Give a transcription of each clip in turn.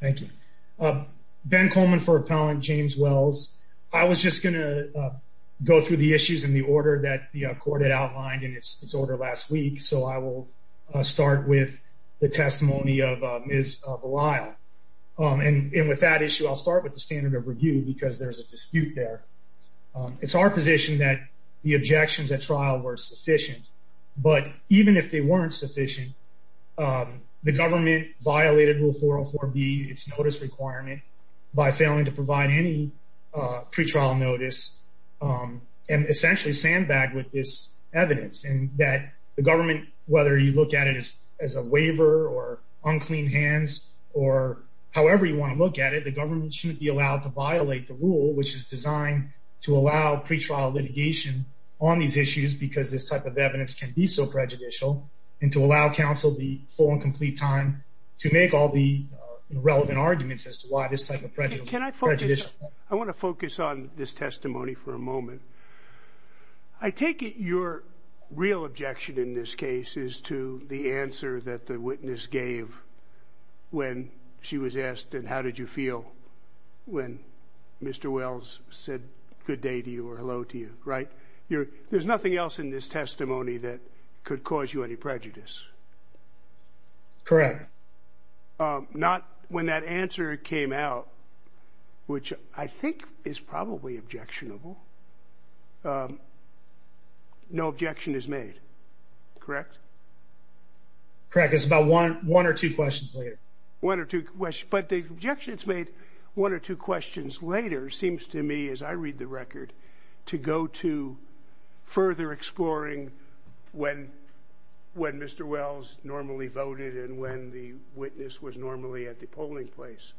Thank you. Ben Coleman for Appellant James Wells. I was just going to go through the issues in the order that the court had outlined in its order last week, so I will start with the testimony of Ms. Belisle, and with that issue I'll start with the standard of review because there's a dispute there. It's our position that the objections at trial were sufficient, but even if they weren't sufficient, the government violated Rule 404B, its notice requirement, by failing to provide any pretrial notice and essentially sandbagged with this evidence and that the government, whether you look at it as a waiver or unclean hands or however you want to look at it, the government shouldn't be allowed to violate the rule, which is designed to allow pretrial litigation on these issues because this type of evidence can be so prejudicial and to allow counsel the full and complete time to make all the relevant arguments as to why this type of prejudice. I want to focus on this testimony for a moment. I take it your real objection in this case is to the answer that the witness gave when she was asked, and how did you feel when Mr. Wells said good day to you or hello to you, right? There's nothing else in this testimony that could cause you any prejudice. Correct. Not when that answer came out, which I think is probably objectionable. No objection is made, correct? Correct. It's about one or two questions later. But the objection that's made one or two questions later seems to me, as I read the record, to go to further exploring when Mr. Wells normally voted and when the witness was normally at the polling place.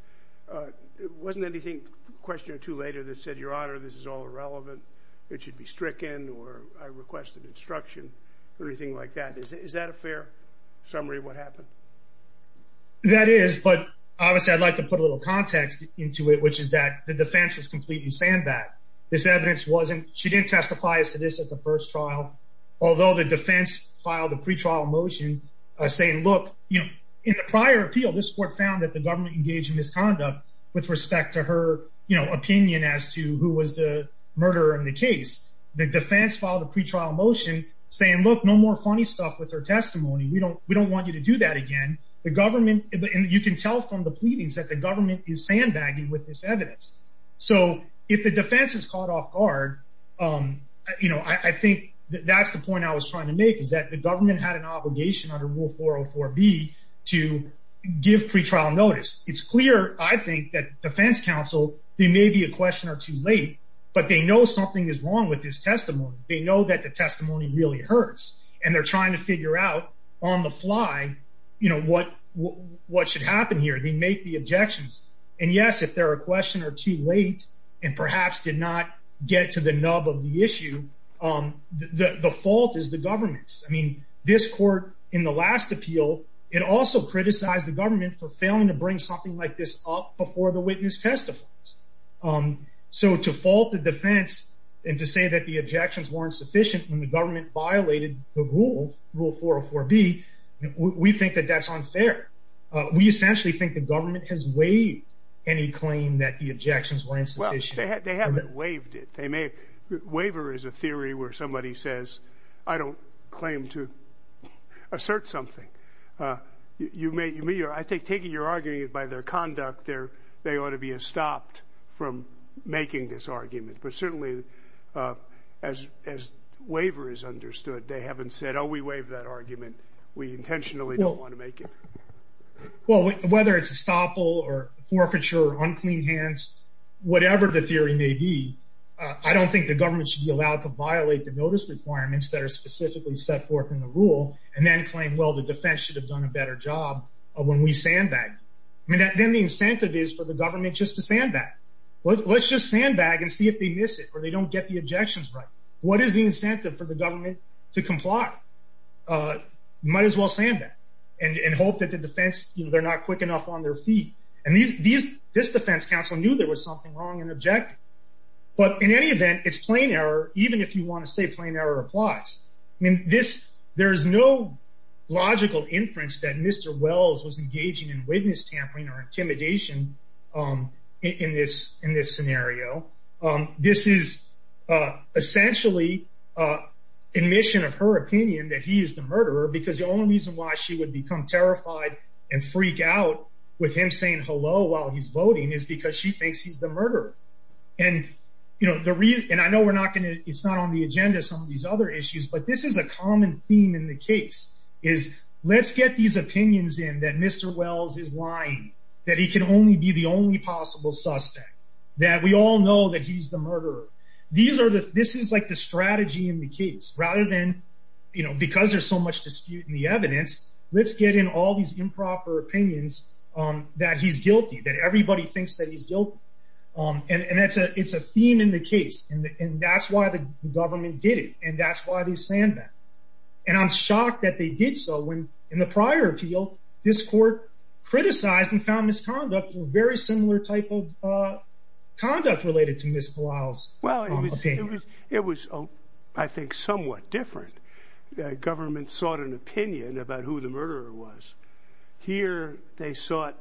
Wasn't there a question or two later that said, Your Honor, this is all irrelevant, it should be stricken, or I requested instruction, or anything like that. Is that a fair summary of what happened? That is, but obviously I'd like to put a little context into it, which is that the defense was completely sandbagged. She didn't testify as to this at the first trial, although the defense filed a pretrial motion saying, look, in the prior appeal, this court found that the government engaged in misconduct with respect to her opinion as to who was the murderer in the case. The defense filed a pretrial motion saying, look, no more funny stuff with her testimony. We don't want you to do that again. You can tell from the pleadings that the government is sandbagging with this evidence. So if the defense is caught off guard, I think that's the point I was trying to make, is that the government had an obligation under Rule 404B to give pretrial notice. It's clear, I think, that defense counsel, they may be a question or two late, but they know something is wrong with this testimony. They know that the testimony really hurts, and they're trying to figure out on the fly what should happen here. They make the objections, and yes, if they're a question or two late, and perhaps did not get to the nub of the issue, the fault is the government's. I mean, this court, in the last appeal, it also criticized the government for failing to bring something like this up before the witness testifies. So to fault the defense and to say that the objections weren't sufficient when the government violated the rule, Rule 404B, we think that that's unfair. We essentially think the government has waived any claim that the objections were insufficient. Well, they haven't waived it. Waiver is a theory where somebody says, I don't claim to assert something. I think, taking your argument, by their conduct, they ought to be stopped from making this argument. But certainly, as waiver is understood, they haven't said, oh, we waived that argument. We intentionally don't want to make it. Well, whether it's estoppel or forfeiture or unclean hands, whatever the theory may be, I don't think the government should be allowed to violate the notice requirements that are specifically set forth in the rule, and then claim, well, the defense should have done a better job when we sandbagged. I mean, then the incentive is for the government just to sandbag. Let's just sandbag and see if they miss it or they don't get the objections right. What is the incentive for the government to comply? Might as well sandbag and hope that the defense, they're not quick enough on their feet. And this defense counsel knew there was something wrong and objective. But in any event, it's plain error, even if you want to say plain error applies. I mean, there is no logical inference that Mr. Wells was engaging in witness tampering or intimidation in this scenario. This is essentially admission of her opinion that he is the murderer, because the only reason why she would become terrified and freak out with him saying hello while he's voting is because she thinks he's the murderer. And I know it's not on the agenda, some of these other issues, but this is a common theme in the case, is let's get these opinions in that Mr. Wells is lying, that he can only be the only possible suspect, that we all know that he's the murderer. This is like the strategy in the case, rather than, you know, because there's so much dispute in the evidence, let's get in all these improper opinions that he's guilty, that everybody thinks that he's guilty. And it's a theme in the case, and that's why the government did it, and that's why they sandbagged. And I'm shocked that they did so when, in the prior appeal, this court criticized and found misconduct, a very similar type of conduct related to Ms. Blile's opinion. Well, it was, I think, somewhat different. The government sought an opinion about who the murderer was. Here, they sought,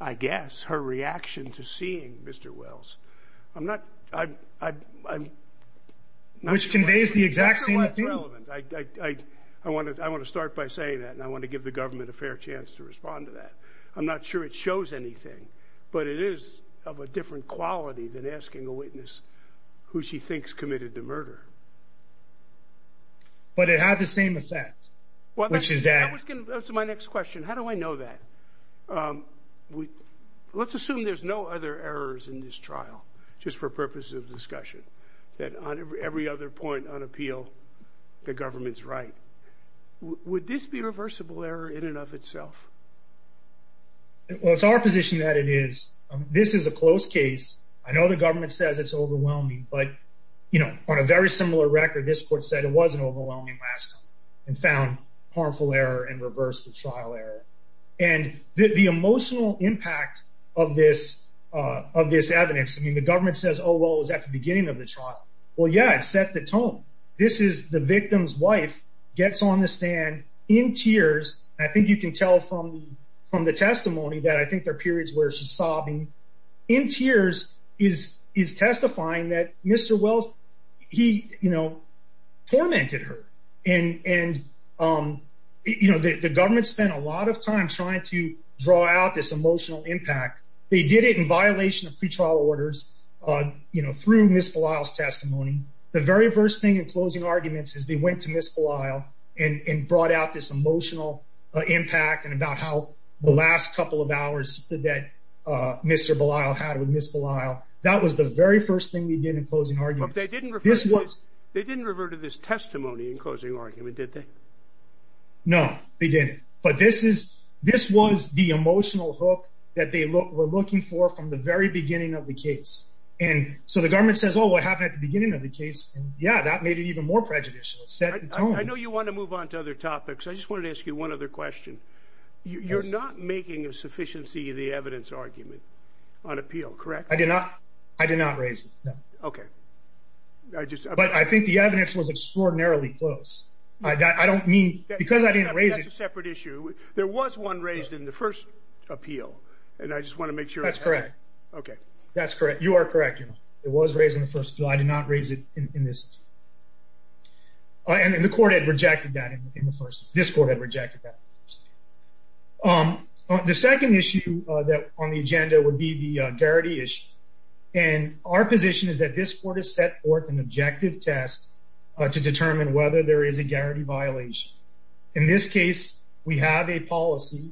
I guess, her reaction to seeing Mr. Wells. I'm not... Which conveys the exact same opinion. I want to start by saying that, and I want to give the government a fair chance to respond to that. I'm not sure it shows anything, but it is of a different quality than asking a witness who she thinks committed the murder. But it had the same effect, which is that... That's my next question. How do I know that? Let's assume there's no other errors in this trial, just for purposes of discussion. That on every other point on appeal, the government's right. Would this be a reversible error in and of itself? Well, it's our position that it is. This is a closed case. I know the government says it's overwhelming, but, you know, on a very similar record, this court said it was an overwhelming last time, and found harmful error and reversed the trial error. And the emotional impact of this evidence... I mean, the government says, oh, well, it was at the beginning of the trial. Well, yeah, it set the tone. This is the victim's wife, gets on the stand in tears. I think you can tell from the testimony that I think there are periods where she's sobbing. In tears, is testifying that Mr. Wells, he, you know, tormented her. And, you know, the government spent a lot of time trying to draw out this emotional impact. They did it in violation of pretrial orders, you know, through Ms. Belisle's testimony. The very first thing in closing arguments is they went to Ms. Belisle and brought out this emotional impact and about how the last couple of hours that Mr. Belisle had with Ms. Belisle. That was the very first thing they did in closing arguments. They didn't revert to this testimony in closing argument, did they? No, they didn't. But this was the emotional hook that they were looking for from the very beginning of the case. And so the government says, oh, what happened at the beginning of the case? Yeah, that made it even more prejudicial. I know you want to move on to other topics. I just wanted to ask you one other question. You're not making a sufficiency of the evidence argument on appeal, correct? I did not. I did not raise it. Okay. But I think the evidence was extraordinarily close. I don't mean, because I didn't raise it. That's a separate issue. There was one raised in the first appeal. And I just want to make sure I have that. That's correct. You are correct. It was raised in the first appeal. I did not raise it in this. And the court had rejected that in the first. This court had rejected that. The second issue on the agenda would be the Garrity issue. And our position is that this court has set forth an objective test to determine whether there is a Garrity violation. In this case, we have a policy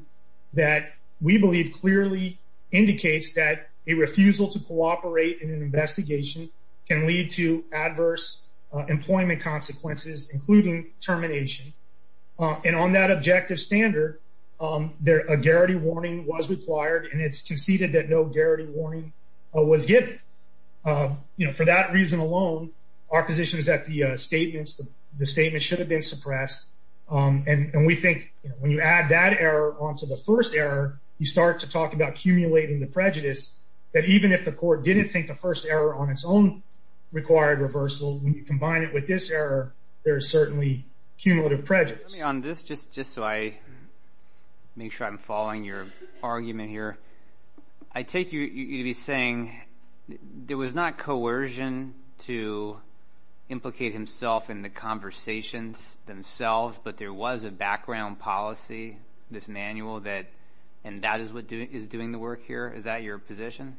that we believe clearly indicates that a refusal to cooperate in an investigation can lead to adverse employment consequences, including termination. And on that objective standard, a Garrity warning was required, and it's conceded that no Garrity warning was given. For that reason alone, our position is that the statement should have been suppressed. And we think when you add that error onto the first error, you start to talk about accumulating the prejudice, that even if the court didn't think the first error on its own required reversal, when you combine it with this error, there is certainly cumulative prejudice. On this, just so I make sure I'm following your argument here, I take you to be saying there was not coercion to implicate himself in the conversations themselves, but there was a background policy, this manual, and that is doing the work here? Is that your position?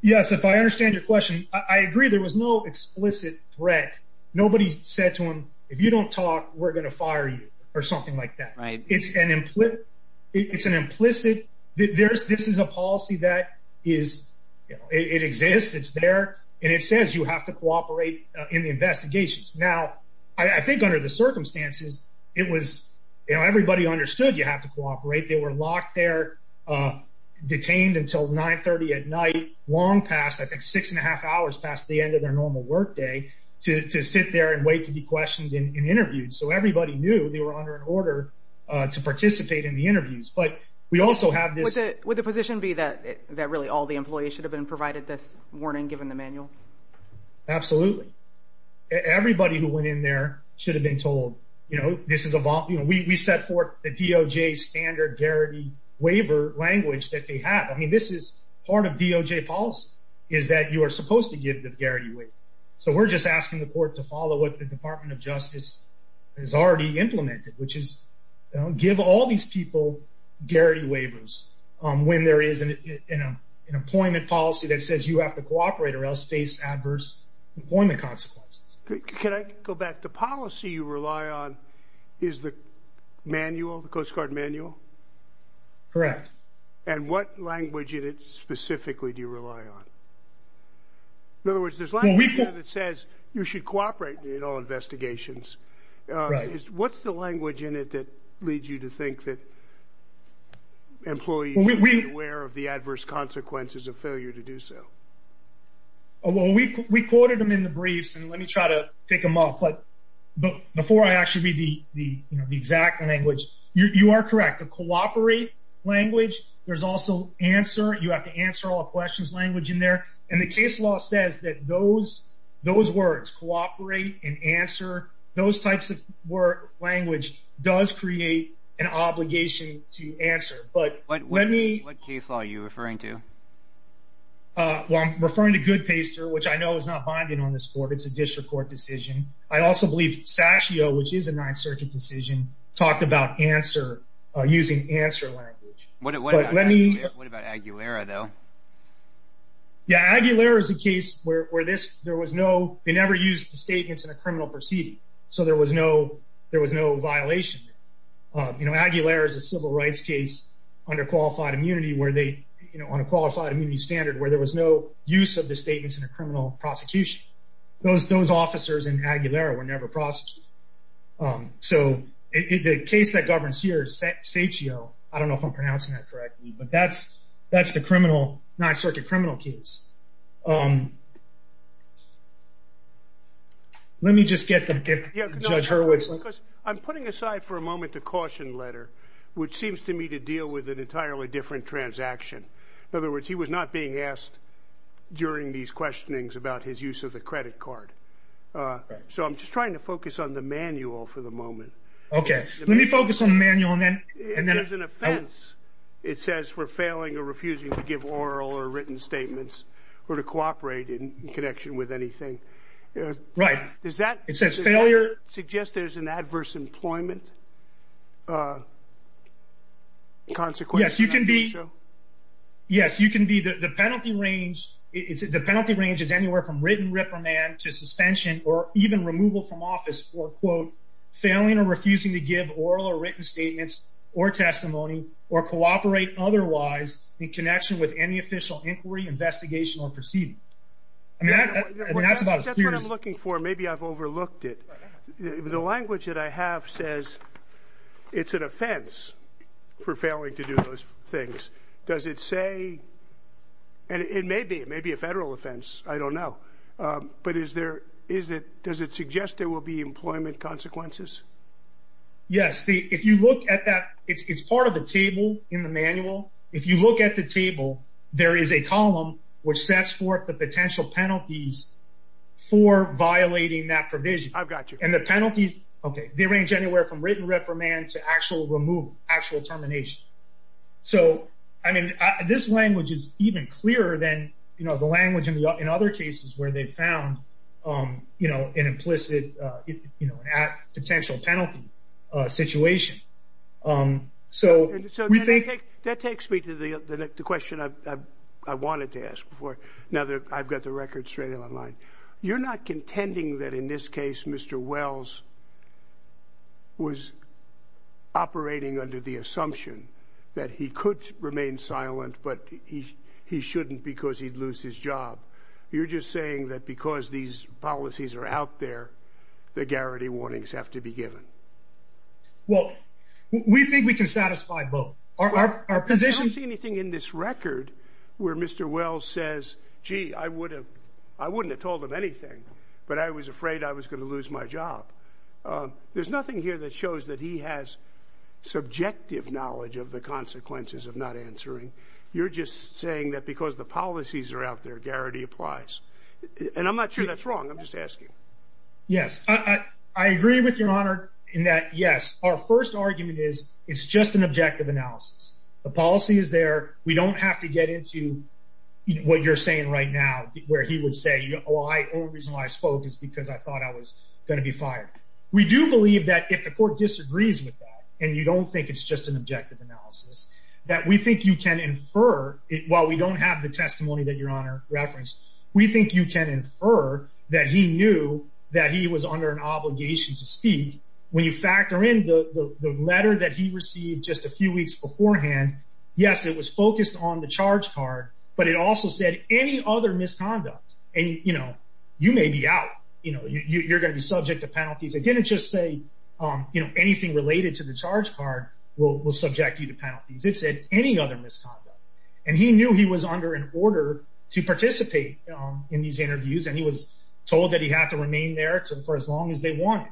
Yes, if I understand your question, I agree there was no explicit threat. Nobody said to him, if you don't talk, we're going to fire you, or something like that. It's an implicit, this is a policy that exists, it's there, and it says you have to cooperate in the investigations. Now, I think under the circumstances, everybody understood you have to cooperate. They were locked there, detained until 9.30 at night, long past, I think six and a half hours past the end of their normal work day, to sit there and wait to be questioned and interviewed. So everybody knew they were under an order to participate in the interviews, but we also have this... Would the position be that really all the employees should have been provided this warning given the manual? Absolutely. Everybody who went in there should have been told, we set forth the DOJ standard guarantee waiver language that they have. I mean, this is part of DOJ policy, is that you are supposed to give the guarantee waiver. So we're just asking the court to follow what the Department of Justice has already implemented, which is give all these people guarantee waivers when there is an employment policy that says you have to cooperate or else face adverse employment consequences. Can I go back, the policy you rely on is the manual, the Coast Guard manual? Correct. And what language in it specifically do you rely on? In other words, there's language in it that says you should cooperate in all investigations. Right. What's the language in it that leads you to think that employees should be aware of the adverse consequences of failure to do so? Well, we quoted them in the briefs, and let me try to pick them up, but before I actually read the exact language, you are correct, the cooperate language, there's also answer, you have to answer all questions language in there, and the case law says that those words, cooperate and answer, those types of language does create an obligation to answer, but let me... What case law are you referring to? Well, I'm referring to Goodpaster, which I know is not binding on this court, it's a district court decision. I also believe Sascio, which is a Ninth Circuit decision, talked about answer, using answer language. What about Aguilera, though? Yeah, Aguilera is a case where there was no... They never used the statements in a criminal proceeding, so there was no violation. Aguilera is a civil rights case under qualified immunity, on a qualified immunity standard, where there was no use of the statements in a criminal prosecution. Those officers in Aguilera were never prosecuted. So the case that governs here, Sascio, I don't know if I'm pronouncing that correctly, but that's the Ninth Circuit criminal case. Let me just get Judge Hurwitz... I'm putting aside for a moment the caution letter, which seems to me to deal with an entirely different transaction. In other words, he was not being asked during these questionings about his use of the credit card. So I'm just trying to focus on the manual for the moment. Okay, let me focus on the manual and then... It says for failing or refusing to give oral or written statements, or to cooperate in connection with anything. Right. It says failure... Does that suggest there's an adverse employment consequence? Yes, you can be... Yes, you can be... The penalty range is anywhere from written reprimand to suspension or even removal from office for, quote, failing or refusing to give oral or written statements or testimony or cooperate otherwise in connection with any official inquiry, investigation, or proceeding. And that's about... That's what I'm looking for. Maybe I've overlooked it. The language that I have says it's an offense for failing to do those things. Does it say... And it may be a federal offense. I don't know. But is there... Does it suggest there will be employment consequences? Yes. If you look at that... It's part of the table in the manual. If you look at the table, there is a column which sets forth the potential penalties for violating that provision. I've got you. And the penalties, okay, they range anywhere from written reprimand to actual removal, actual termination. So, I mean, this language is even clearer than, you know, the language in other cases where they found, you know, an implicit, you know, a potential penalty situation So, we think... That takes me to the question I wanted to ask before. Now that I've got the record straight online. You're not contending that in this case Mr. Wells was operating under the assumption that he could remain silent, but he shouldn't because he'd lose his job. You're just saying that because these policies are out there, the guarantee warnings have to be given. Well, we think we can satisfy both. Our position... I don't see anything in this record where Mr. Wells says, gee, I wouldn't have told him anything, but I was afraid I was going to lose my job. There's nothing here that shows that he has subjective knowledge of the consequences of not answering. You're just saying that because the policies are out there, guarantee applies. And I'm not sure that's wrong. I'm just asking. In that, yes, our first argument is it's just an objective analysis. The policy is there. We don't have to get into what you're saying right now where he would say, the only reason why I spoke is because I thought I was going to be fired. We do believe that if the court disagrees with that and you don't think it's just an objective analysis, that we think you can infer, while we don't have the testimony that Your Honor referenced, we think you can infer that he knew that he was under an obligation to speak. When you factor in the letter that he received just a few weeks beforehand, yes, it was focused on the charge card, but it also said any other misconduct. And you may be out. You're going to be subject to penalties. It didn't just say anything related to the charge card will subject you to penalties. It said any other misconduct. And he knew he was under an order to participate in these interviews, and he was told that he had to remain there for as long as they wanted.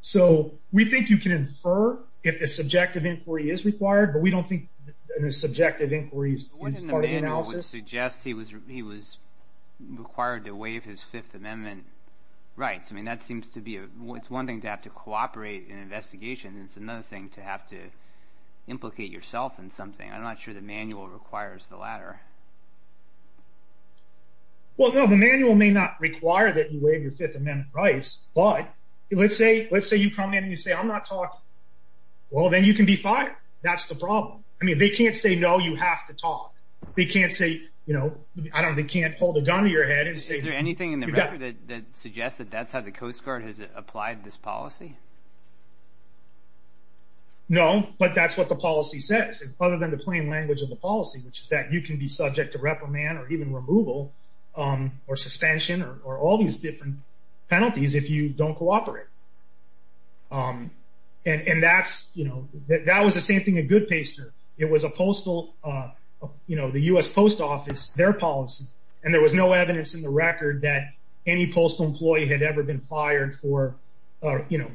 So we think you can infer if a subjective inquiry is required, but we don't think a subjective inquiry is part of the analysis. What in the manual would suggest he was required to waive his Fifth Amendment rights? I mean, that seems to be it's one thing to have to cooperate in an investigation, implicate yourself in something. I'm not sure the manual requires the latter. Well, no, the manual may not require that you waive your Fifth Amendment rights, but let's say you come in and you say, I'm not talking. Well, then you can be fired. That's the problem. I mean, they can't say, no, you have to talk. They can't say, you know, they can't hold a gun to your head and say... Is there anything in the record that suggests that that's how the Coast Guard has applied this policy? No, but that's what the policy says. Other than the plain language of the policy, which is that you can be subject to reprimand or even removal or suspension or all these different penalties if you don't cooperate. And that's, you know, that was the same thing at Goodpaster. It was a postal, you know, the U.S. Post Office, their policy, and there was no evidence in the record that any postal employee had ever been fired for, you know,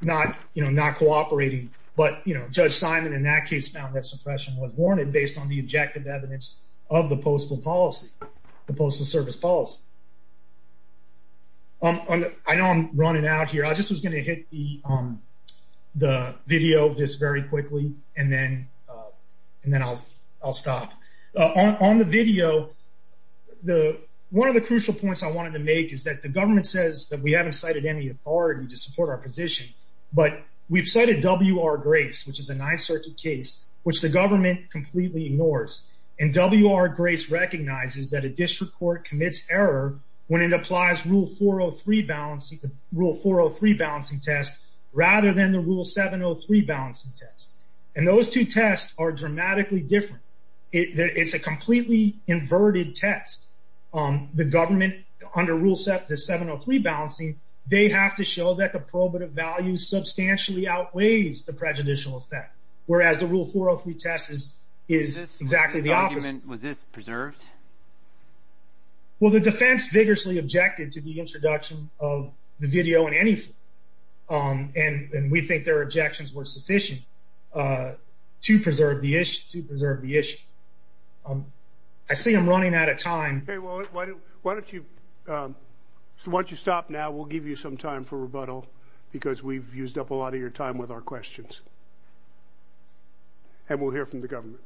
not cooperating. But, you know, Judge Simon in that case found that suppression was warranted because there was no objective evidence of the postal policy, the postal service policy. I know I'm running out here. I just was going to hit the video of this very quickly, and then I'll stop. On the video, one of the crucial points I wanted to make is that the government says that we haven't cited any authority to support our position, but we've cited W.R. Grace, which is a Ninth Circuit case, and W.R. Grace recognizes that a district court commits error when it applies Rule 403 balancing test rather than the Rule 703 balancing test. And those two tests are dramatically different. It's a completely inverted test. The government, under Rule 703 balancing, they have to show that the probative value substantially outweighs the prejudicial effect, whereas the Rule 403 test is exactly the opposite. Was this preserved? Well, the defense vigorously objected to the introduction of the video in any form, and we think their objections were sufficient to preserve the issue. I see I'm running out of time. Why don't you stop now? We'll give you some time for rebuttal because we've used up a lot of your time with our questions. And we'll hear from the government.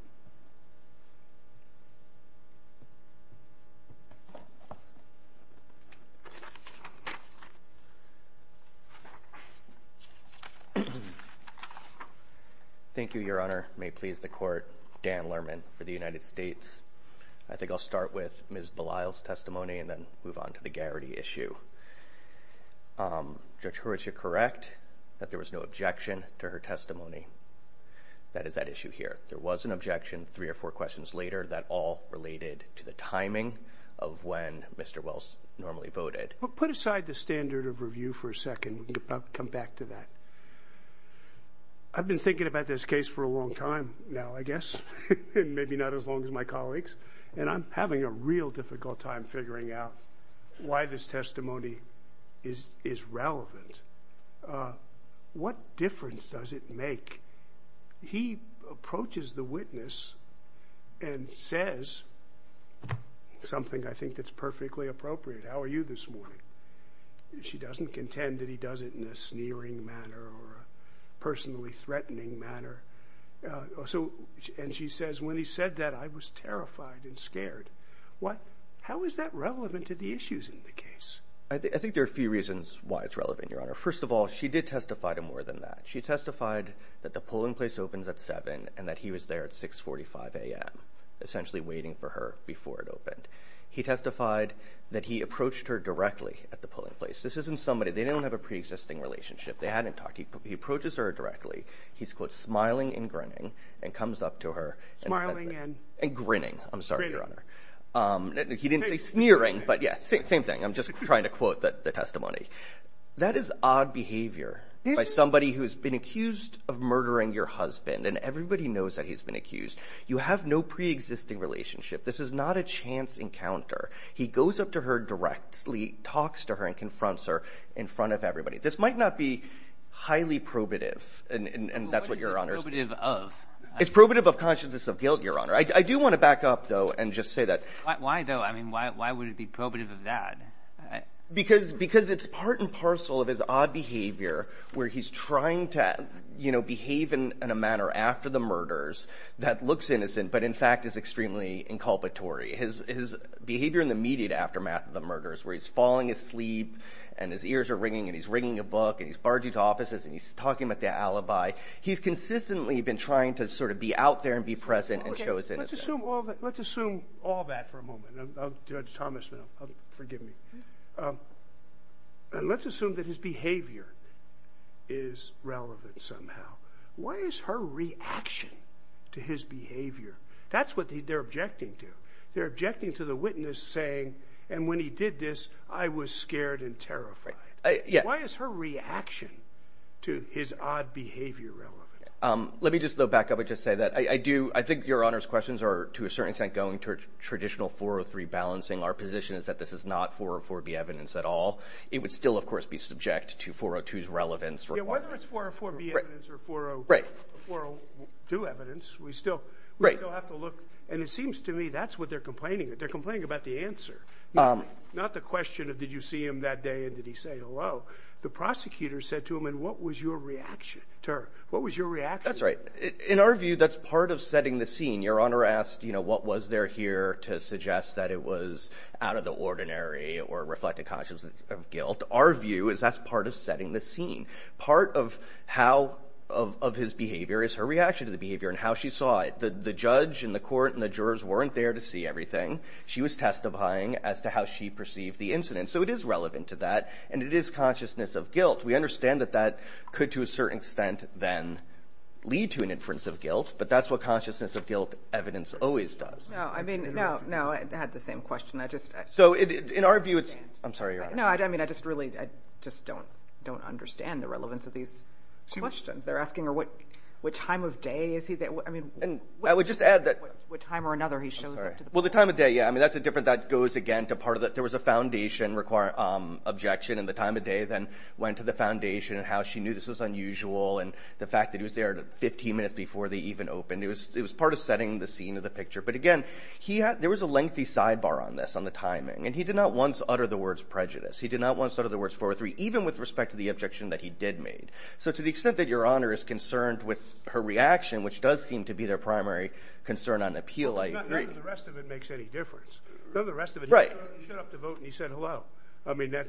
Thank you, Your Honor. May it please the Court, Dan Lerman for the United States. I think I'll start with Ms. Belisle's testimony and then move on to the Garrity issue. Judge Hurwitz, you're correct that there was no objection to her testimony. That is that issue here. There was an objection three or four questions later that all related to the timing of when Mr. Wells normally voted. Well, put aside the standard of review for a second. I'll come back to that. I've been thinking about this case for a long time now, I guess, and maybe not as long as my colleagues, and I'm having a real difficult time figuring out why this testimony is relevant. What difference does it make? He approaches the witness and says something I think that's perfectly appropriate. How are you this morning? She doesn't contend that he does it in a sneering manner or a personally threatening manner. And she says, when he said that, I was terrified and scared. How is that relevant to the issues in the case? I think there are a few reasons why it's relevant, Your Honor. First of all, she did testify to more than that. She testified that the polling place opens at 7 and that he was there at 6.45 a.m., essentially waiting for her before it opened. He testified that he approached her directly at the polling place. This isn't somebody, they don't have a preexisting relationship. They hadn't talked. He approaches her directly. He's, quote, smiling and grinning and comes up to her and grinning. I'm sorry, Your Honor. That is odd behavior by somebody who has been accused of murdering your husband. And everybody knows that he's been accused. You have no preexisting relationship. This is not a chance encounter. He goes up to her directly, talks to her, and confronts her in front of everybody. This might not be highly probative, and that's what Your Honor is. What is it probative of? It's probative of consciousness of guilt, Your Honor. I do want to back up, though, and just say that. Why, though? Because he's been parcel of his odd behavior where he's trying to, you know, behave in a manner after the murders that looks innocent, but in fact is extremely inculpatory. His behavior in the immediate aftermath of the murders where he's falling asleep and his ears are ringing and he's ringing a book and he's barging to offices and he's talking about the alibi, he's consistently been trying to sort of be out there and be present and show his innocence. Let's assume all that for a moment. Judge Thomas, forgive me. Let's assume that his behavior is relevant somehow. Why is her reaction to his behavior? That's what they're objecting to. They're objecting to the witness saying, and when he did this, I was scared and terrified. Why is her reaction to his odd behavior relevant? Let me just, though, back up and just say that. I think Your Honor's questions are, to a certain extent, going to a traditional 403 balancing. Our position is that this is not 404B evidence at all. It would still, of course, be subject to 402's relevance. Whether it's 404B evidence or 402 evidence, we still have to look. And it seems to me that's what they're complaining about. They're complaining about the answer, not the question of did you see him that day and did he say hello. The prosecutor said to him, and what was your reaction to her? That's right. In our view, that's part of setting the scene. Your Honor asked what was there here that was out of the ordinary or reflected consciousness of guilt. Our view is that's part of setting the scene. Part of his behavior is her reaction to the behavior and how she saw it. The judge and the court and the jurors weren't there to see everything. She was testifying as to how she perceived the incident. So it is relevant to that, and it is consciousness of guilt. We understand that that could, to a certain extent, then lead to an inference of guilt, but that's what consciousness of guilt evidence always does. No, I had the same question. In our view, it's... I'm sorry, Your Honor. No, I just really don't understand the relevance of these questions. They're asking what time of day is he... I would just add that... What time or another he shows up to the... Well, the time of day, yeah. That's a different... There was a foundation objection, and the time of day then went to the foundation and how she knew this was unusual and the fact that he was there 15 minutes before they even opened. There was a lengthy sidebar on this, on the timing, and he did not once utter the words prejudice. He did not once utter the words 403, even with respect to the objection that he did make. So to the extent that Your Honor is concerned with her reaction, which does seem to be their primary concern on appeal, I agree. The rest of it makes any difference. None of the rest of it... Right. He showed up to vote and he said hello. I mean, that...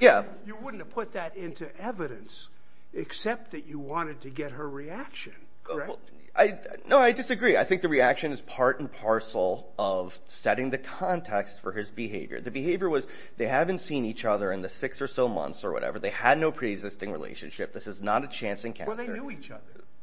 Yeah. You wouldn't have put that into evidence except that you wanted to get her reaction, correct? He was part and parcel of setting the context for his behavior. The behavior was they haven't seen each other in the six or so months or whatever. They had no preexisting relationship. This is not a chance encounter. Well, they knew each other.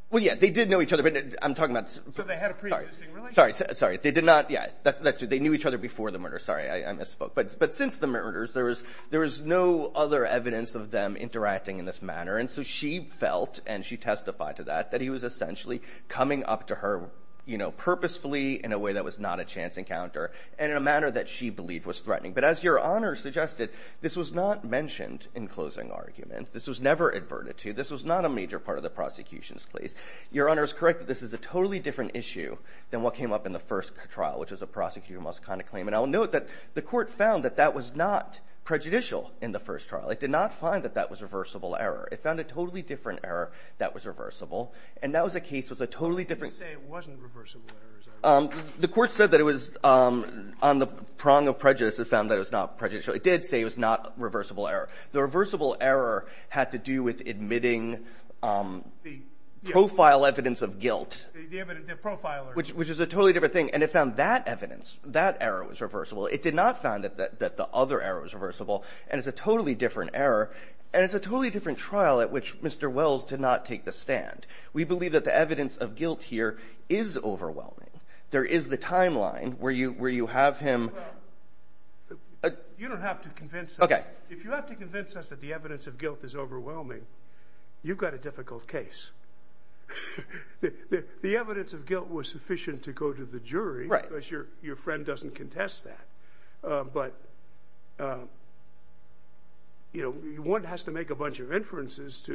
Well, yeah, they did know each other, but I'm talking about... So they had a preexisting relationship? Sorry, sorry, they did not... Yeah, that's true. They knew each other before the murder. Sorry, I misspoke. But since the murders, there was no other evidence of them interacting in this manner. And so she felt, and she testified to that, that he was essentially coming up to her, you know, purposefully in a way that was not a chance encounter and in a manner that she believed was threatening. But as Your Honor suggested, this was not mentioned in closing argument. This was never adverted to. This was not a major part of the prosecution's case. Your Honor is correct that this is a totally different issue than what came up in the first trial, which was a prosecutor must condemn a claim. And I'll note that the court found that it was not prejudicial in the first trial. It did not find that that was reversible error. It found a totally different error that was reversible. And that was a case that was a totally different... You didn't say it wasn't reversible error. The court said that it was on the prong of prejudice. It found that it was not prejudicial. It did say it was not reversible error. The reversible error had to do with admitting the profile evidence of guilt. The profile evidence. Which is a totally different thing. And it found that evidence, that error was reversible. It did not find that the other error was reversible. And it's a totally different error. And it's a totally different trial at which Mr. Wells did not take the stand. We believe that the evidence of guilt here is overwhelming. There is the timeline where you have him... You don't have to convince us. If you have to convince us that the evidence of guilt is overwhelming, you've got a difficult case. The evidence of guilt was sufficient to go to the jury. Because your friend doesn't contest that. But one has to make a bunch of inferences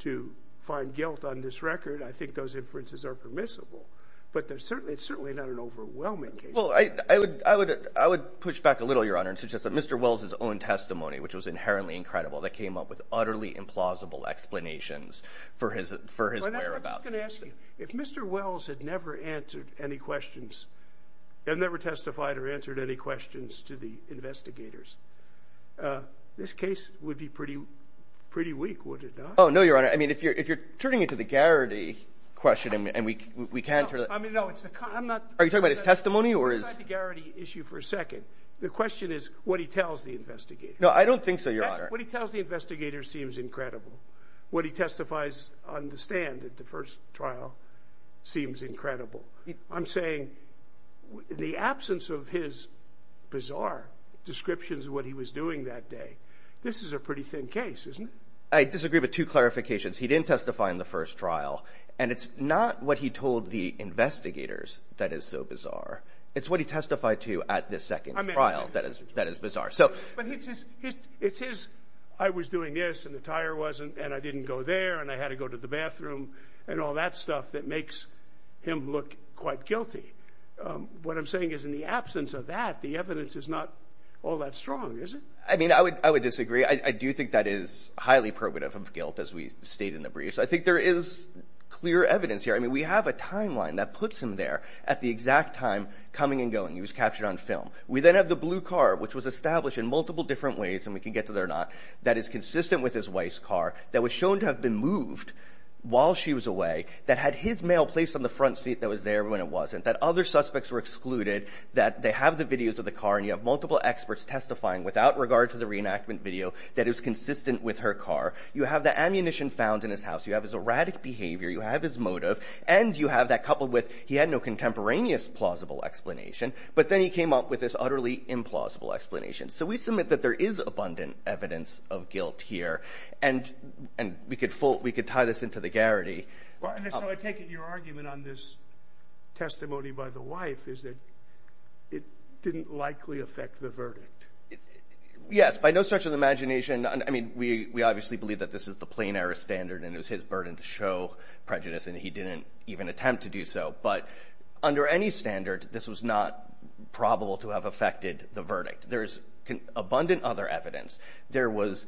to find guilt on this record. I think those inferences are permissible. But it's certainly not an overwhelming case. I would push back a little, Your Honor, and suggest that Mr. Wells' own testimony, which was inherently incredible, that came up with utterly implausible explanations for his whereabouts. I'm just going to ask you, if Mr. Wells had never answered any questions, had never testified or answered any questions to the investigators, this case would be pretty weak, would it not? Oh, no, Your Honor. I mean, if you're turning it to the Garrity question, and we can't turn it... Are you talking about his testimony, or his... Let's go back to the Garrity issue for a second. The question is what he tells the investigators. No, I don't think so, Your Honor. What he tells the investigators seems incredible. What he testifies on the stand at the first trial seems incredible. I'm saying the absence of his bizarre descriptions of what he was doing that day, this is a pretty thin case, isn't it? I disagree with two clarifications. He didn't testify in the first trial, and it's not what he told the investigators that is so bizarre. It's what he testified to at the second trial that is bizarre. But it's his... I was doing this, and the tire wasn't, and I didn't go there, and I had to go to the bathroom, and all that stuff that makes him look quite guilty. What I'm saying is in the absence of that, the evidence is not all that strong, is it? I mean, I would disagree. I do think that is highly probative of guilt, as we state in the briefs. I think there is clear evidence here. I mean, we have a timeline that puts him there at the exact time coming and going. He was captured on film. We then have the blue car, that is consistent with his wife's car, that was shown to have been moved while she was away, that had his mail placed on the front seat that was there when it wasn't, that other suspects were excluded, that they have the videos of the car, and you have multiple experts testifying without regard to the reenactment video that it was consistent with her car. You have the ammunition found in his house. You have his erratic behavior. You have his motive, and you have that coupled with he had no contemporaneous plausible explanation, but then he came up with this utterly implausible explanation. So we submit that there is abundant evidence of guilt here, and we could tie this into the Garrity. And so I take it your argument on this testimony by the wife is that it didn't likely affect the verdict. Yes, by no stretch of the imagination. I mean, we obviously believe that this is the plain-error standard, and it was his burden to show prejudice, and he didn't even attempt to do so. But under any standard, it's not probable to have affected the verdict. There is abundant other evidence. There was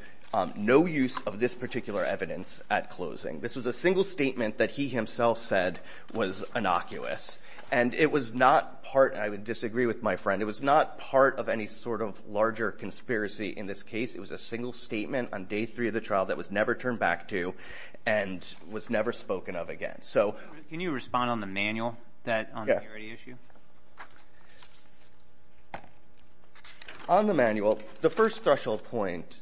no use of this particular evidence at closing. This was a single statement that he himself said was innocuous, and it was not part, and I would disagree with my friend, it was not part of any sort of larger conspiracy in this case. It was a single statement on day three of the trial that was never turned back to and was never spoken of again. Can you respond on the manual on the Garrity issue? On the manual, the first threshold point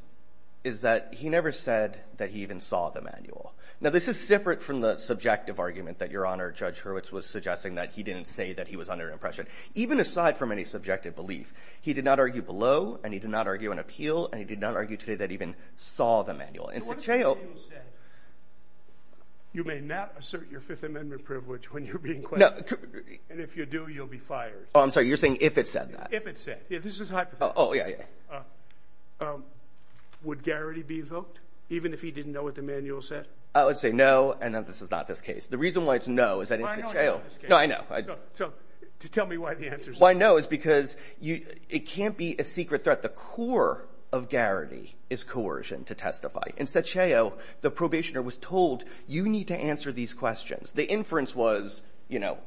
is that he never said that he even saw the manual. Now, this is separate from the subjective argument that Your Honor, Judge Hurwitz was suggesting that he didn't say that he was under impression, even aside from any subjective belief. He did not argue below, and he did not argue on appeal, and he did not argue today that he even saw the manual. So what if the manual said you may not assert your Fifth Amendment privilege when you're being questioned, and if you do, you'll be fired? You're saying if it said that. If it said. This is a hypothetical. Oh, yeah, yeah. Would Garrity be invoked, even if he didn't know what the manual said? I would say no, and that this is not this case. The reason why it's no is that I know. So tell me why the answer is no. Why no is because it can't be a secret threat. The core of Garrity is coercion to testify, and Saccio, the probationer, was told you need to answer these questions. The inference was, you know,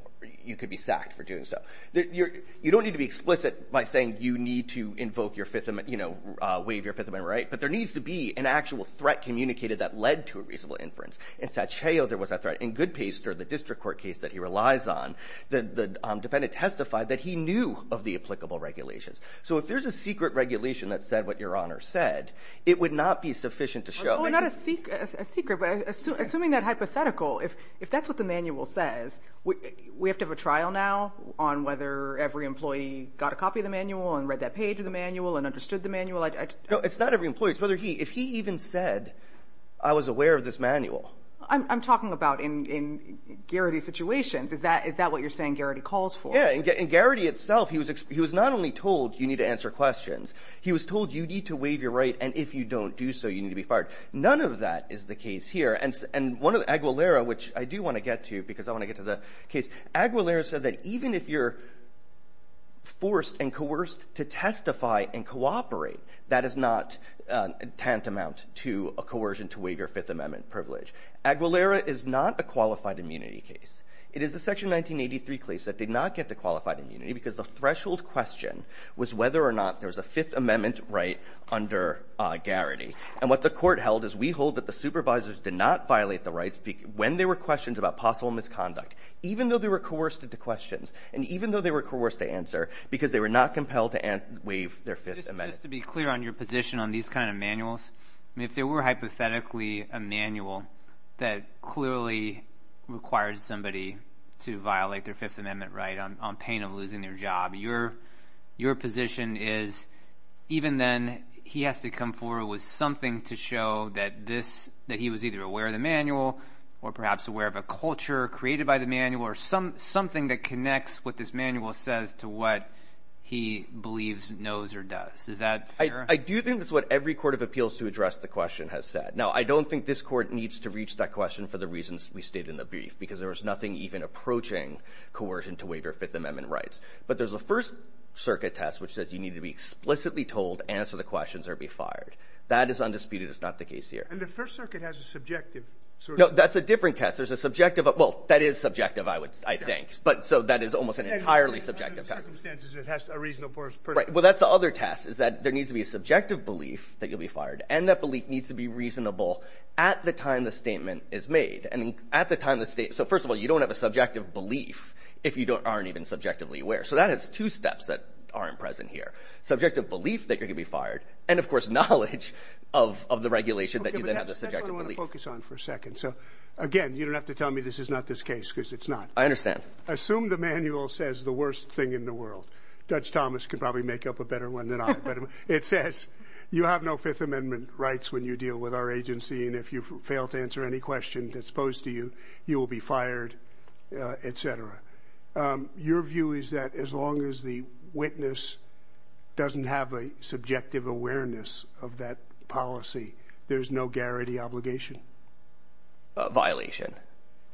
you could be sacked for doing so. You don't need to be explicit by saying you need to invoke your Fifth Amendment, you know, waive your Fifth Amendment right, but there needs to be an actual threat communicated that led to a reasonable inference. In Saccio, there was a threat. In Goodpaster, the district court case that he relies on, the defendant testified that he knew of the applicable regulations. So if there's a secret regulation that said what Your Honor said, it would not be sufficient to show. Well, not a secret, but assuming that hypothetical, if that's what the manual says, we have to have a trial now to see if every employee got a copy of the manual and read that page of the manual and understood the manual. No, it's not every employee. It's whether he, if he even said I was aware of this manual. I'm talking about in Garrity's situations. Is that what you're saying Garrity calls for? Yeah, in Garrity itself, he was not only told you need to answer questions, he was told you need to waive your right, and if you don't do so, you need to be fired. None of that is the case here, and Aguilera, which I do want to get to because I want to get to the case, was forced and coerced to testify and cooperate. That is not tantamount to a coercion to waive your Fifth Amendment privilege. Aguilera is not a qualified immunity case. It is a Section 1983 case that did not get to qualified immunity because the threshold question was whether or not there was a Fifth Amendment right under Garrity, and what the court held is we hold that the supervisors did not violate the rights when there were questions about possible misconduct. Even though they were coerced into questions and even though they were coerced to answer, because they were not compelled to waive their Fifth Amendment. Just to be clear on your position on these kind of manuals, if there were hypothetically a manual that clearly requires somebody to violate their Fifth Amendment right on pain of losing their job, your position is even then, he has to come forward with something to show that this, that he was either aware of the manual or perhaps aware of a culture created by the manual or something that connects what this manual says to what he believes knows or does. Is that fair? I do think that's what every court of appeals to address the question has said. Now, I don't think this court needs to reach that question for the reasons we stated in the brief because there was nothing even approaching coercion to waive your Fifth Amendment rights. But there's a First Circuit test which says you need to be explicitly told to answer the questions or be fired. That is undisputed. It's not the case here. And the First Circuit has a subjective... No, that's a different test. There's a subjective... Well, that is subjective, I think. So that is almost an entirely subjective test. Under certain circumstances, it has to be a reasonable person. Right. Well, that's the other test is that there needs to be a subjective belief that you'll be fired and that belief needs to be reasonable at the time the statement is made. So, first of all, you don't have a subjective belief if you aren't even subjectively aware. So that has two steps that aren't present here. Subjective belief that you're going to be fired and, of course, knowledge of the regulation that you then have the subjective belief. That's what I want to focus on for a second. So, again, you don't have to tell me this is not this case because it's not. I understand. Assume the manual says the worst thing in the world. Dutch Thomas could probably make up a better one than I. But it says you have no Fifth Amendment rights when you deal with our agency and if you fail to answer any questions exposed to you, you will be fired, et cetera. Your view is that as long as the witness doesn't have a subjective awareness of that policy, there's no garrity obligation. Violation.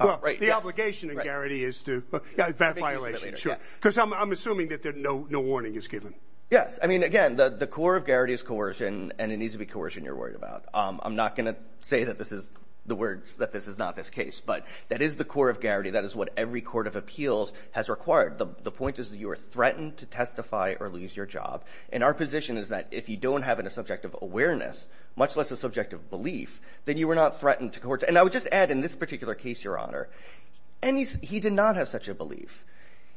Right. The obligation of garrity is to that violation. Sure. Because I'm assuming that there's no warning is given. Yes. I mean, again, the core of garrity is coercion and it needs to be coercion you're worried about. I'm not going to say that this is the words that this is not this case, but that is the core of garrity. That is what every court of appeals has required. The point is that you are threatened to testify or lose your job. And our position is that if you don't have a subjective awareness, much less a subjective belief, then you were not threatened to court. And I would just add in this particular case, Your Honor, he did not have such a belief.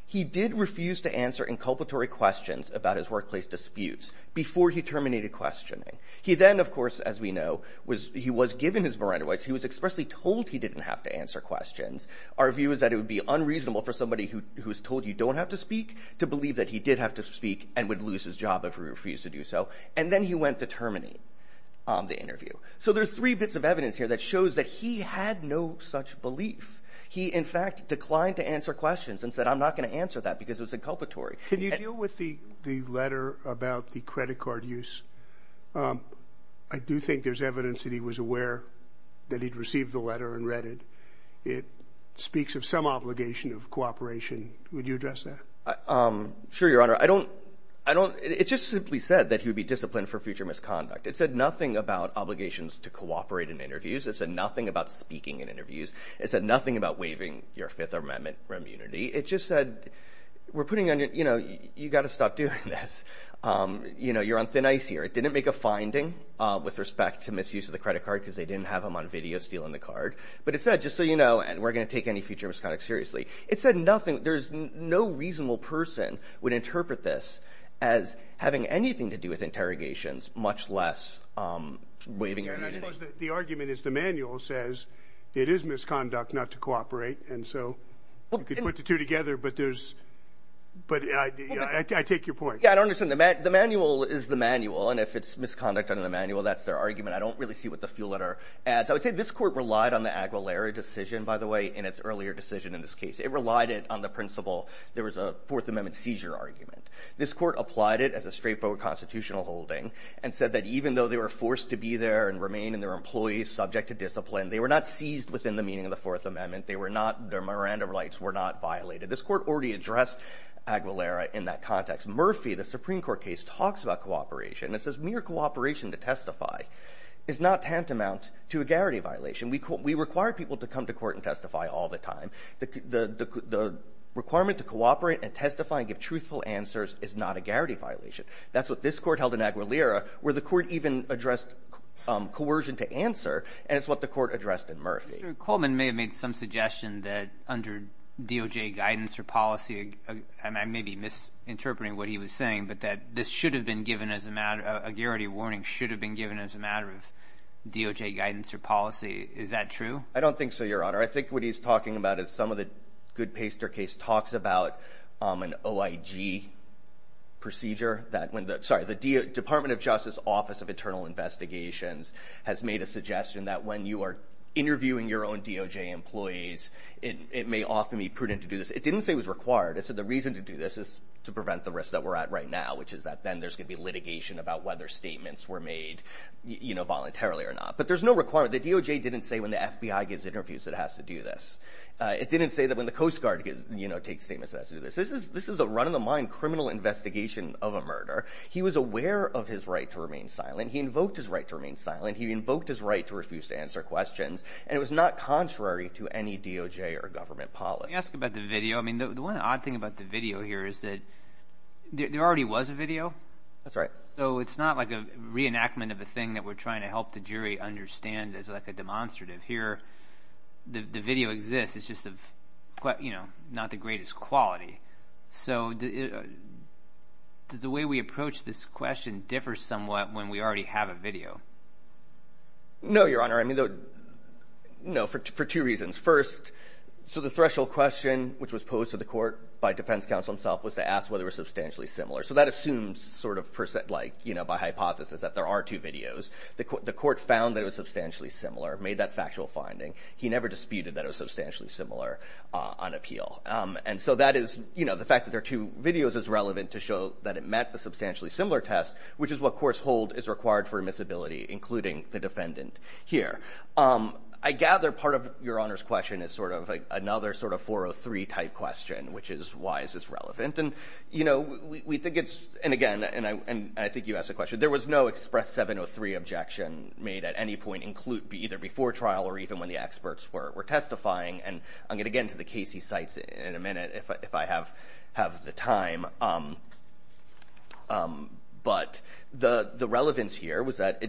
He did refuse to answer inculpatory questions about his workplace disputes before he terminated questioning. He then, of course, as we know, he was given his Miranda rights. He was expressly told he didn't have to answer questions. Our view is that it would be unreasonable for somebody who's told you don't have to speak to believe that he did have to speak and would lose his job if he refused to do so. And then he went to terminate the interview. So there's three bits of evidence here that shows that he had no such belief. He, in fact, declined to answer questions and said, I'm not going to answer that because it was inculpatory. Can you deal with the letter about the credit card use? I do think there's evidence that he was aware that he'd received the letter and read it. It speaks of some obligation of cooperation. Would you address that? Sure, Your Honor. I don't, it just simply said that he would be disciplined for future misconduct. It said nothing about obligations to cooperate in interviews. It said nothing about speaking in interviews. It said nothing about waiving your Fifth Amendment immunity. It just said, we're putting on your, you know, you've got to stop doing this. You know, you're on thin ice here. It didn't make a finding with respect to misuse of the credit card because they didn't have them on video stealing the card. But it said, just so you know, and we're going to take any future misconduct seriously. It said nothing, there's no reasonable person would interpret this as having anything to do with interrogations, much less waiving your immunity. And I suppose the argument is the manual says it is misconduct not to cooperate. And so, you can put the two together, but there's, but I take your point. Yeah, I don't understand. The manual is the manual and if it's misconduct under the manual, that's their argument. I don't really see what the fuel letter adds. I would say this court relied on the Aguilera decision, by the way, in its earlier decision in this case. It relied on the principle there was a Fourth Amendment seizure argument. This court applied it as a straightforward constitutional holding and said that even though they were forced to be there and remain in their employees subject to discipline, they were not seized within the meaning of the Fourth Amendment. They were not, their Miranda rights were not violated. This court already addressed Aguilera in that context. Murphy, the Supreme Court case, talks about cooperation and says mere cooperation to testify is not tantamount to a garrity violation. We require people to come to court and testify all the time. The requirement to cooperate and testify and give truthful answers is not a garrity violation. That's what this court held in Aguilera where the court even addressed coercion to answer and it's what the court addressed in Murphy. Mr. Coleman may have made some suggestion that under DOJ guidance or policy, and I may be misinterpreting what he was saying, but that this should have been given as a matter, a garrity warning should have been given as a matter of DOJ guidance or policy. Is that true? I don't think so, Your Honor. I think what he's talking about is some of the Goodpaster case talks about an OIG procedure that when the, sorry, the Department of Justice Office of Internal Investigations has made a suggestion that when you are interviewing your own DOJ employees it may often be prudent to do this. It didn't say it was required. It said the reason to do this is to prevent the risk that we're at right now which is that then there's going to be litigation about whether statements were made voluntarily or not. But there's no requirement. The DOJ didn't say when the FBI gives interviews it has to do this. It didn't say that when the Coast Guard takes statements it has to do this. This is a run-of-the-mind criminal investigation of a murder. He was aware of his right to remain silent. He invoked his right to remain silent. He invoked his right to refuse to answer questions. And it was not contrary to any DOJ or government policy. Let me ask you about the video. I mean, the one odd thing about the video here is that there already was a video. That's right. So it's not like a reenactment of a thing that we're trying to help the jury understand as like a demonstrative. Here, the video exists. It's just of, you know, not the greatest quality. So does the way we approach this question differ somewhat when we already have a video? No, Your Honor. I mean, no, for two reasons. First, so the threshold question which was posed to the court by defense counsel himself was to ask whether it was substantially similar. So that assumes sort of, like, you know, by hypothesis that there are two videos. The court found that it was substantially similar, made that factual finding. He never disputed that it was substantially similar on appeal. And so that is, you know, the fact that there are two videos is relevant to show that it met the substantially similar test which is what courts hold is required for admissibility including the defendant here. I gather part of Your Honor's question is sort of another sort of 403 type question which is why is this relevant? And, you know, we think it's, and again, and I think you asked the question, there was no express 703 objection made at any point include, either before trial or even when the experts were testifying. And I'm going to get into the Casey sites in a minute if I have the time. But the relevance here was that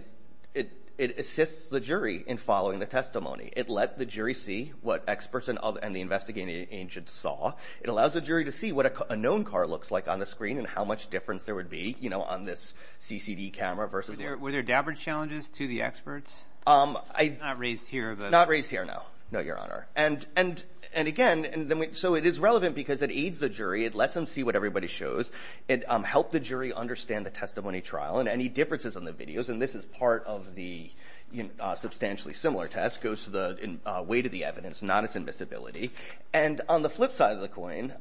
it assists the jury in following the testimony. It let the jury see what experts and the investigating agent saw. It allows the jury to see what a known car looks like on the screen and how much difference there would be, you know, on this CCD camera versus... Were there dapper challenges to the experts? I'm not raised here that... Not raised here, no, no, Your Honor. And again, so it is relevant because it aids the jury. It lets them see what everybody shows. It helped the jury understand the testimony trial and any differences on the videos. And this is part of the substantially similar test, goes to the weight of the evidence, not its invisibility. And on the flip side of the coin,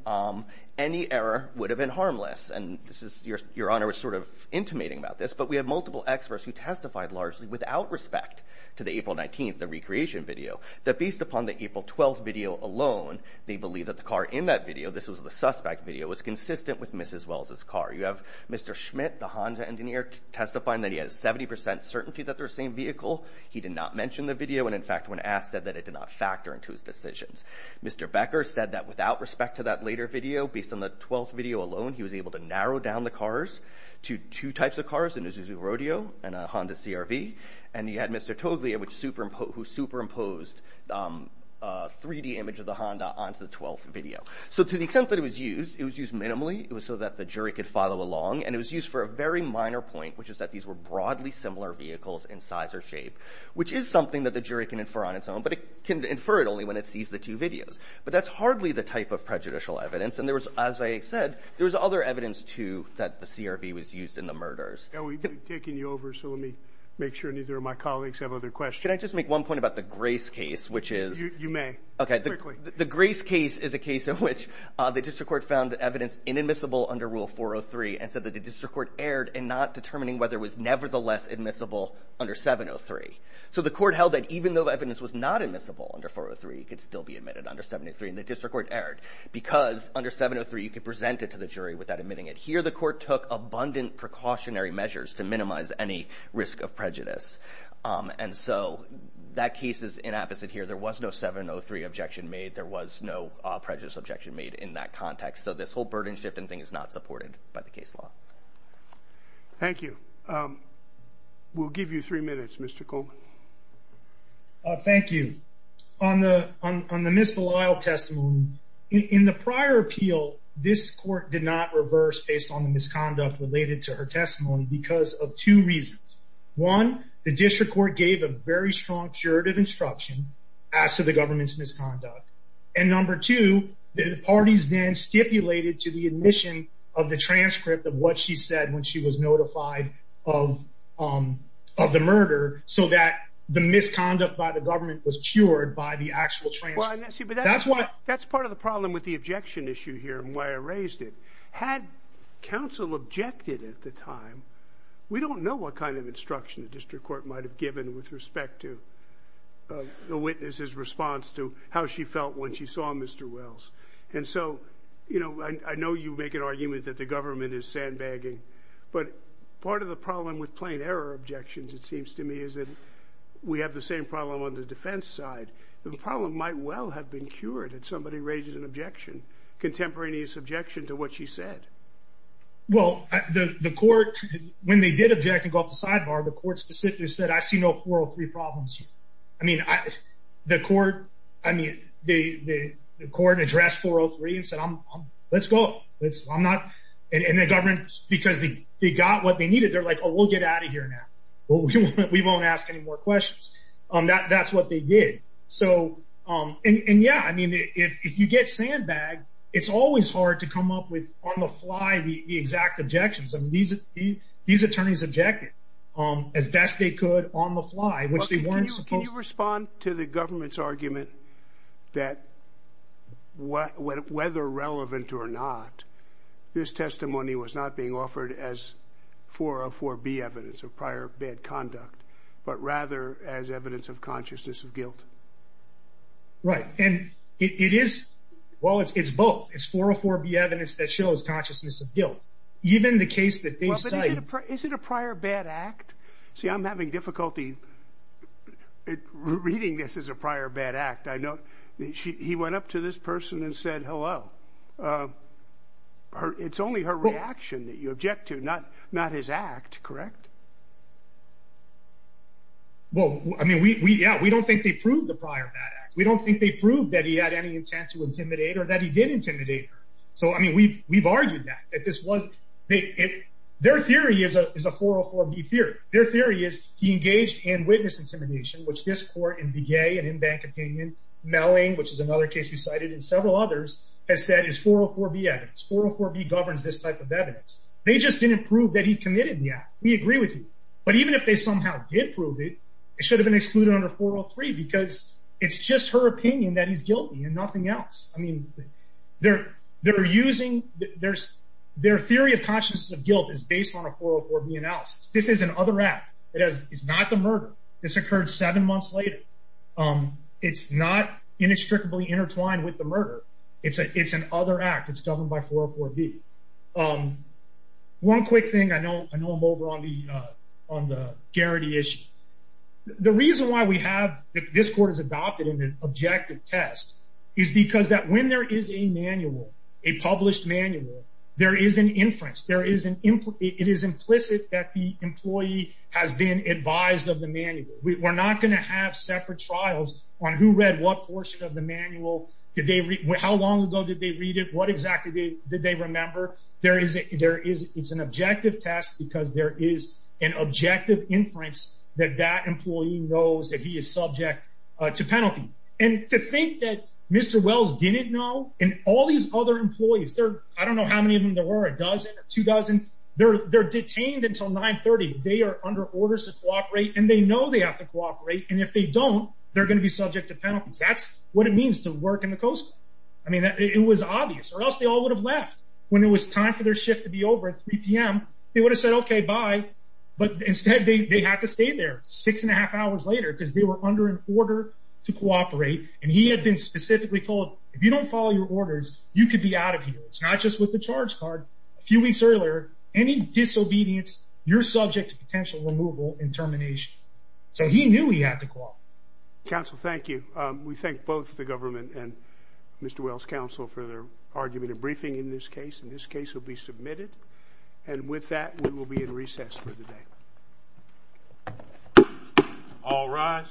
any error would have been harmless. And this is, Your Honor was sort of intimating about this, but we have multiple experts who testified largely without respect to the April 19th, the recreation video, that based upon the April 12th video alone, they believe that the car in that video, this was the suspect video, was consistent with Mrs. Wells' car. You have Mr. Schmidt, the Honda engineer, testifying that he has 70% certainty that they're the same vehicle. He did not mention the video and in fact, when asked, said that it did not factor into his decisions. Mr. Becker said that without respect to that later video, based on the 12th video alone, he was able to narrow down the cars to two types of cars, an Isuzu Rodeo and a Honda CRV. And you had Mr. Toglia who superimposed a 3D image of the Honda onto the 12th video. So to the extent that it was used, it was used minimally. It was so that the jury could follow along and it was used for a very minor point, which is that these were broadly similar vehicles in size or shape, which is something that the jury can infer on its own, but it can infer it only when it sees the two videos. But that's hardly the type of prejudicial evidence and there was, as I said, there was other evidence too that the CRV was used in the murders. We've taken you over so let me make sure neither of my colleagues have other questions. Can I just make one point about the Grace case, which is... You may, quickly. The Grace case is a case in which the district court found evidence inadmissible under Rule 403 and said that the district court erred in not determining whether it was nevertheless admissible under 703. So the court held that even though the evidence was not admissible under 403, it could still be admitted under 703 and the district court erred because under 703 you could present it to the jury without admitting it. Here the court took abundant precautionary measures to minimize any risk of prejudice and so that case is inapposite here. There was no 703 objection made. There was no prejudice objection made in that context so this whole burden shifting thing is not supported by the case law. Thank you. in the prior appeal, this court did not reverse based on the fact that Ms. Belisle did not reverse based on the fact that Ms. Belisle did not reverse based on the misconduct related to her testimony because of two reasons. One, the district court gave a very strong curative instruction as to the government's misconduct and number two, the parties then stipulated to the admission of the transcript of what she said when she was notified of the murder so that the misconduct with the objection issue here and why I raised it. Had Ms. Belisle not reversed based on the fact that Ms. Belisle did not reverse based on the misconduct counsel objected at the time. We don't know what kind of instruction the district court might have given with respect to the witness's response to how she felt when she saw Mr. Wells and so, you know, I know you make an argument that the government is sandbagging but part of the problem with plain error objections it seems to me is that we have the same problem on the defense side. The problem might well have been cured if somebody raises an objection, contemporaneous objection to what she said Well, the court when they did object and go up the sidebar the court specifically said I see no 403 problems here. I mean, the court I mean, the court addressed 403 and said let's go. I'm not and the government because they got what they needed they're like we'll get out of here now. We won't ask any more questions. That's what they did. So, and yeah, I mean, if you get sandbagged it's always hard to come up with on the fly the exact objections. I mean, these attorneys objected as best they could on the fly which they weren't supposed to. Can you respond to the government's argument that whether relevant or not this testimony was not being offered as 404B evidence of prior bad conduct but rather as evidence of consciousness of guilt? Right. And it is well, it's both. It's 404B evidence that shows consciousness of guilt. Even the case that they cite Well, but is it a prior bad act? See, I'm having difficulty reading this as a prior bad act. I know he went up to this person and said, hello. It's only her reaction that you object to not his act, correct? Well, I mean, we, yeah, we don't think they proved the prior bad act. We don't think they proved that he had any intent to intimidate her or that he did intimidate her. So, I mean, we've argued that. That this was, their theory is a 404B theory. Their theory is he engaged in witness intimidation which this court in Begay and in Bank Opinion, Melling, which is another case we cited and several others has said is 404B evidence. 404B governs this type of evidence. They just didn't prove that he committed the act. We agree with you. But even if they somehow did prove it, it should have been excluded under 403 because it's just her opinion that he's guilty and nothing else. I mean, they're using, their theory of consciousness of guilt is based on a 404B analysis. This is an other act. It's not the murder. This occurred seven months later. It's not inextricably intertwined with the murder. It's an other act. I know I'm over on the Garrity issue. The reason why we have this court is that this court is the only case in which we have a case in which this court has adopted an objective test is because when there is a manual, a published manual, there is an inference. It is implicit that the employee has been advised of the manual. We're not going to have separate trials on who read what portion of the manual. How long ago did they read it? What exactly did they remember? It's an objective test because there is an objective inference that that employee knows that he is subject to penalty. To think that Mr. Wells didn't know and all these other employees, I don't know how many of them there were, a dozen, two dozen, they're detained until 930. They are under orders to cooperate and they know they have to cooperate and if they don't, they're going to be subject to penalties. That's what it means to work in the Coast Guard. It was obvious or else they all would have left. When it was time for their shift to be over at 3 p.m., they would have said okay, bye, but instead they had to stay there six and a half hours later because they were under an order to cooperate and he had been specifically told if you don't follow your orders, you could be out of here. It's not just with the charge card. A few weeks earlier, any disobedience, you're subject to potential removal and termination. So he knew he had to cooperate. Counsel, thank you. We thank both the government and Mr. Wells' counsel for their argument and briefing in this case and this case will be submitted and with that we will be in recess for the day. All rise.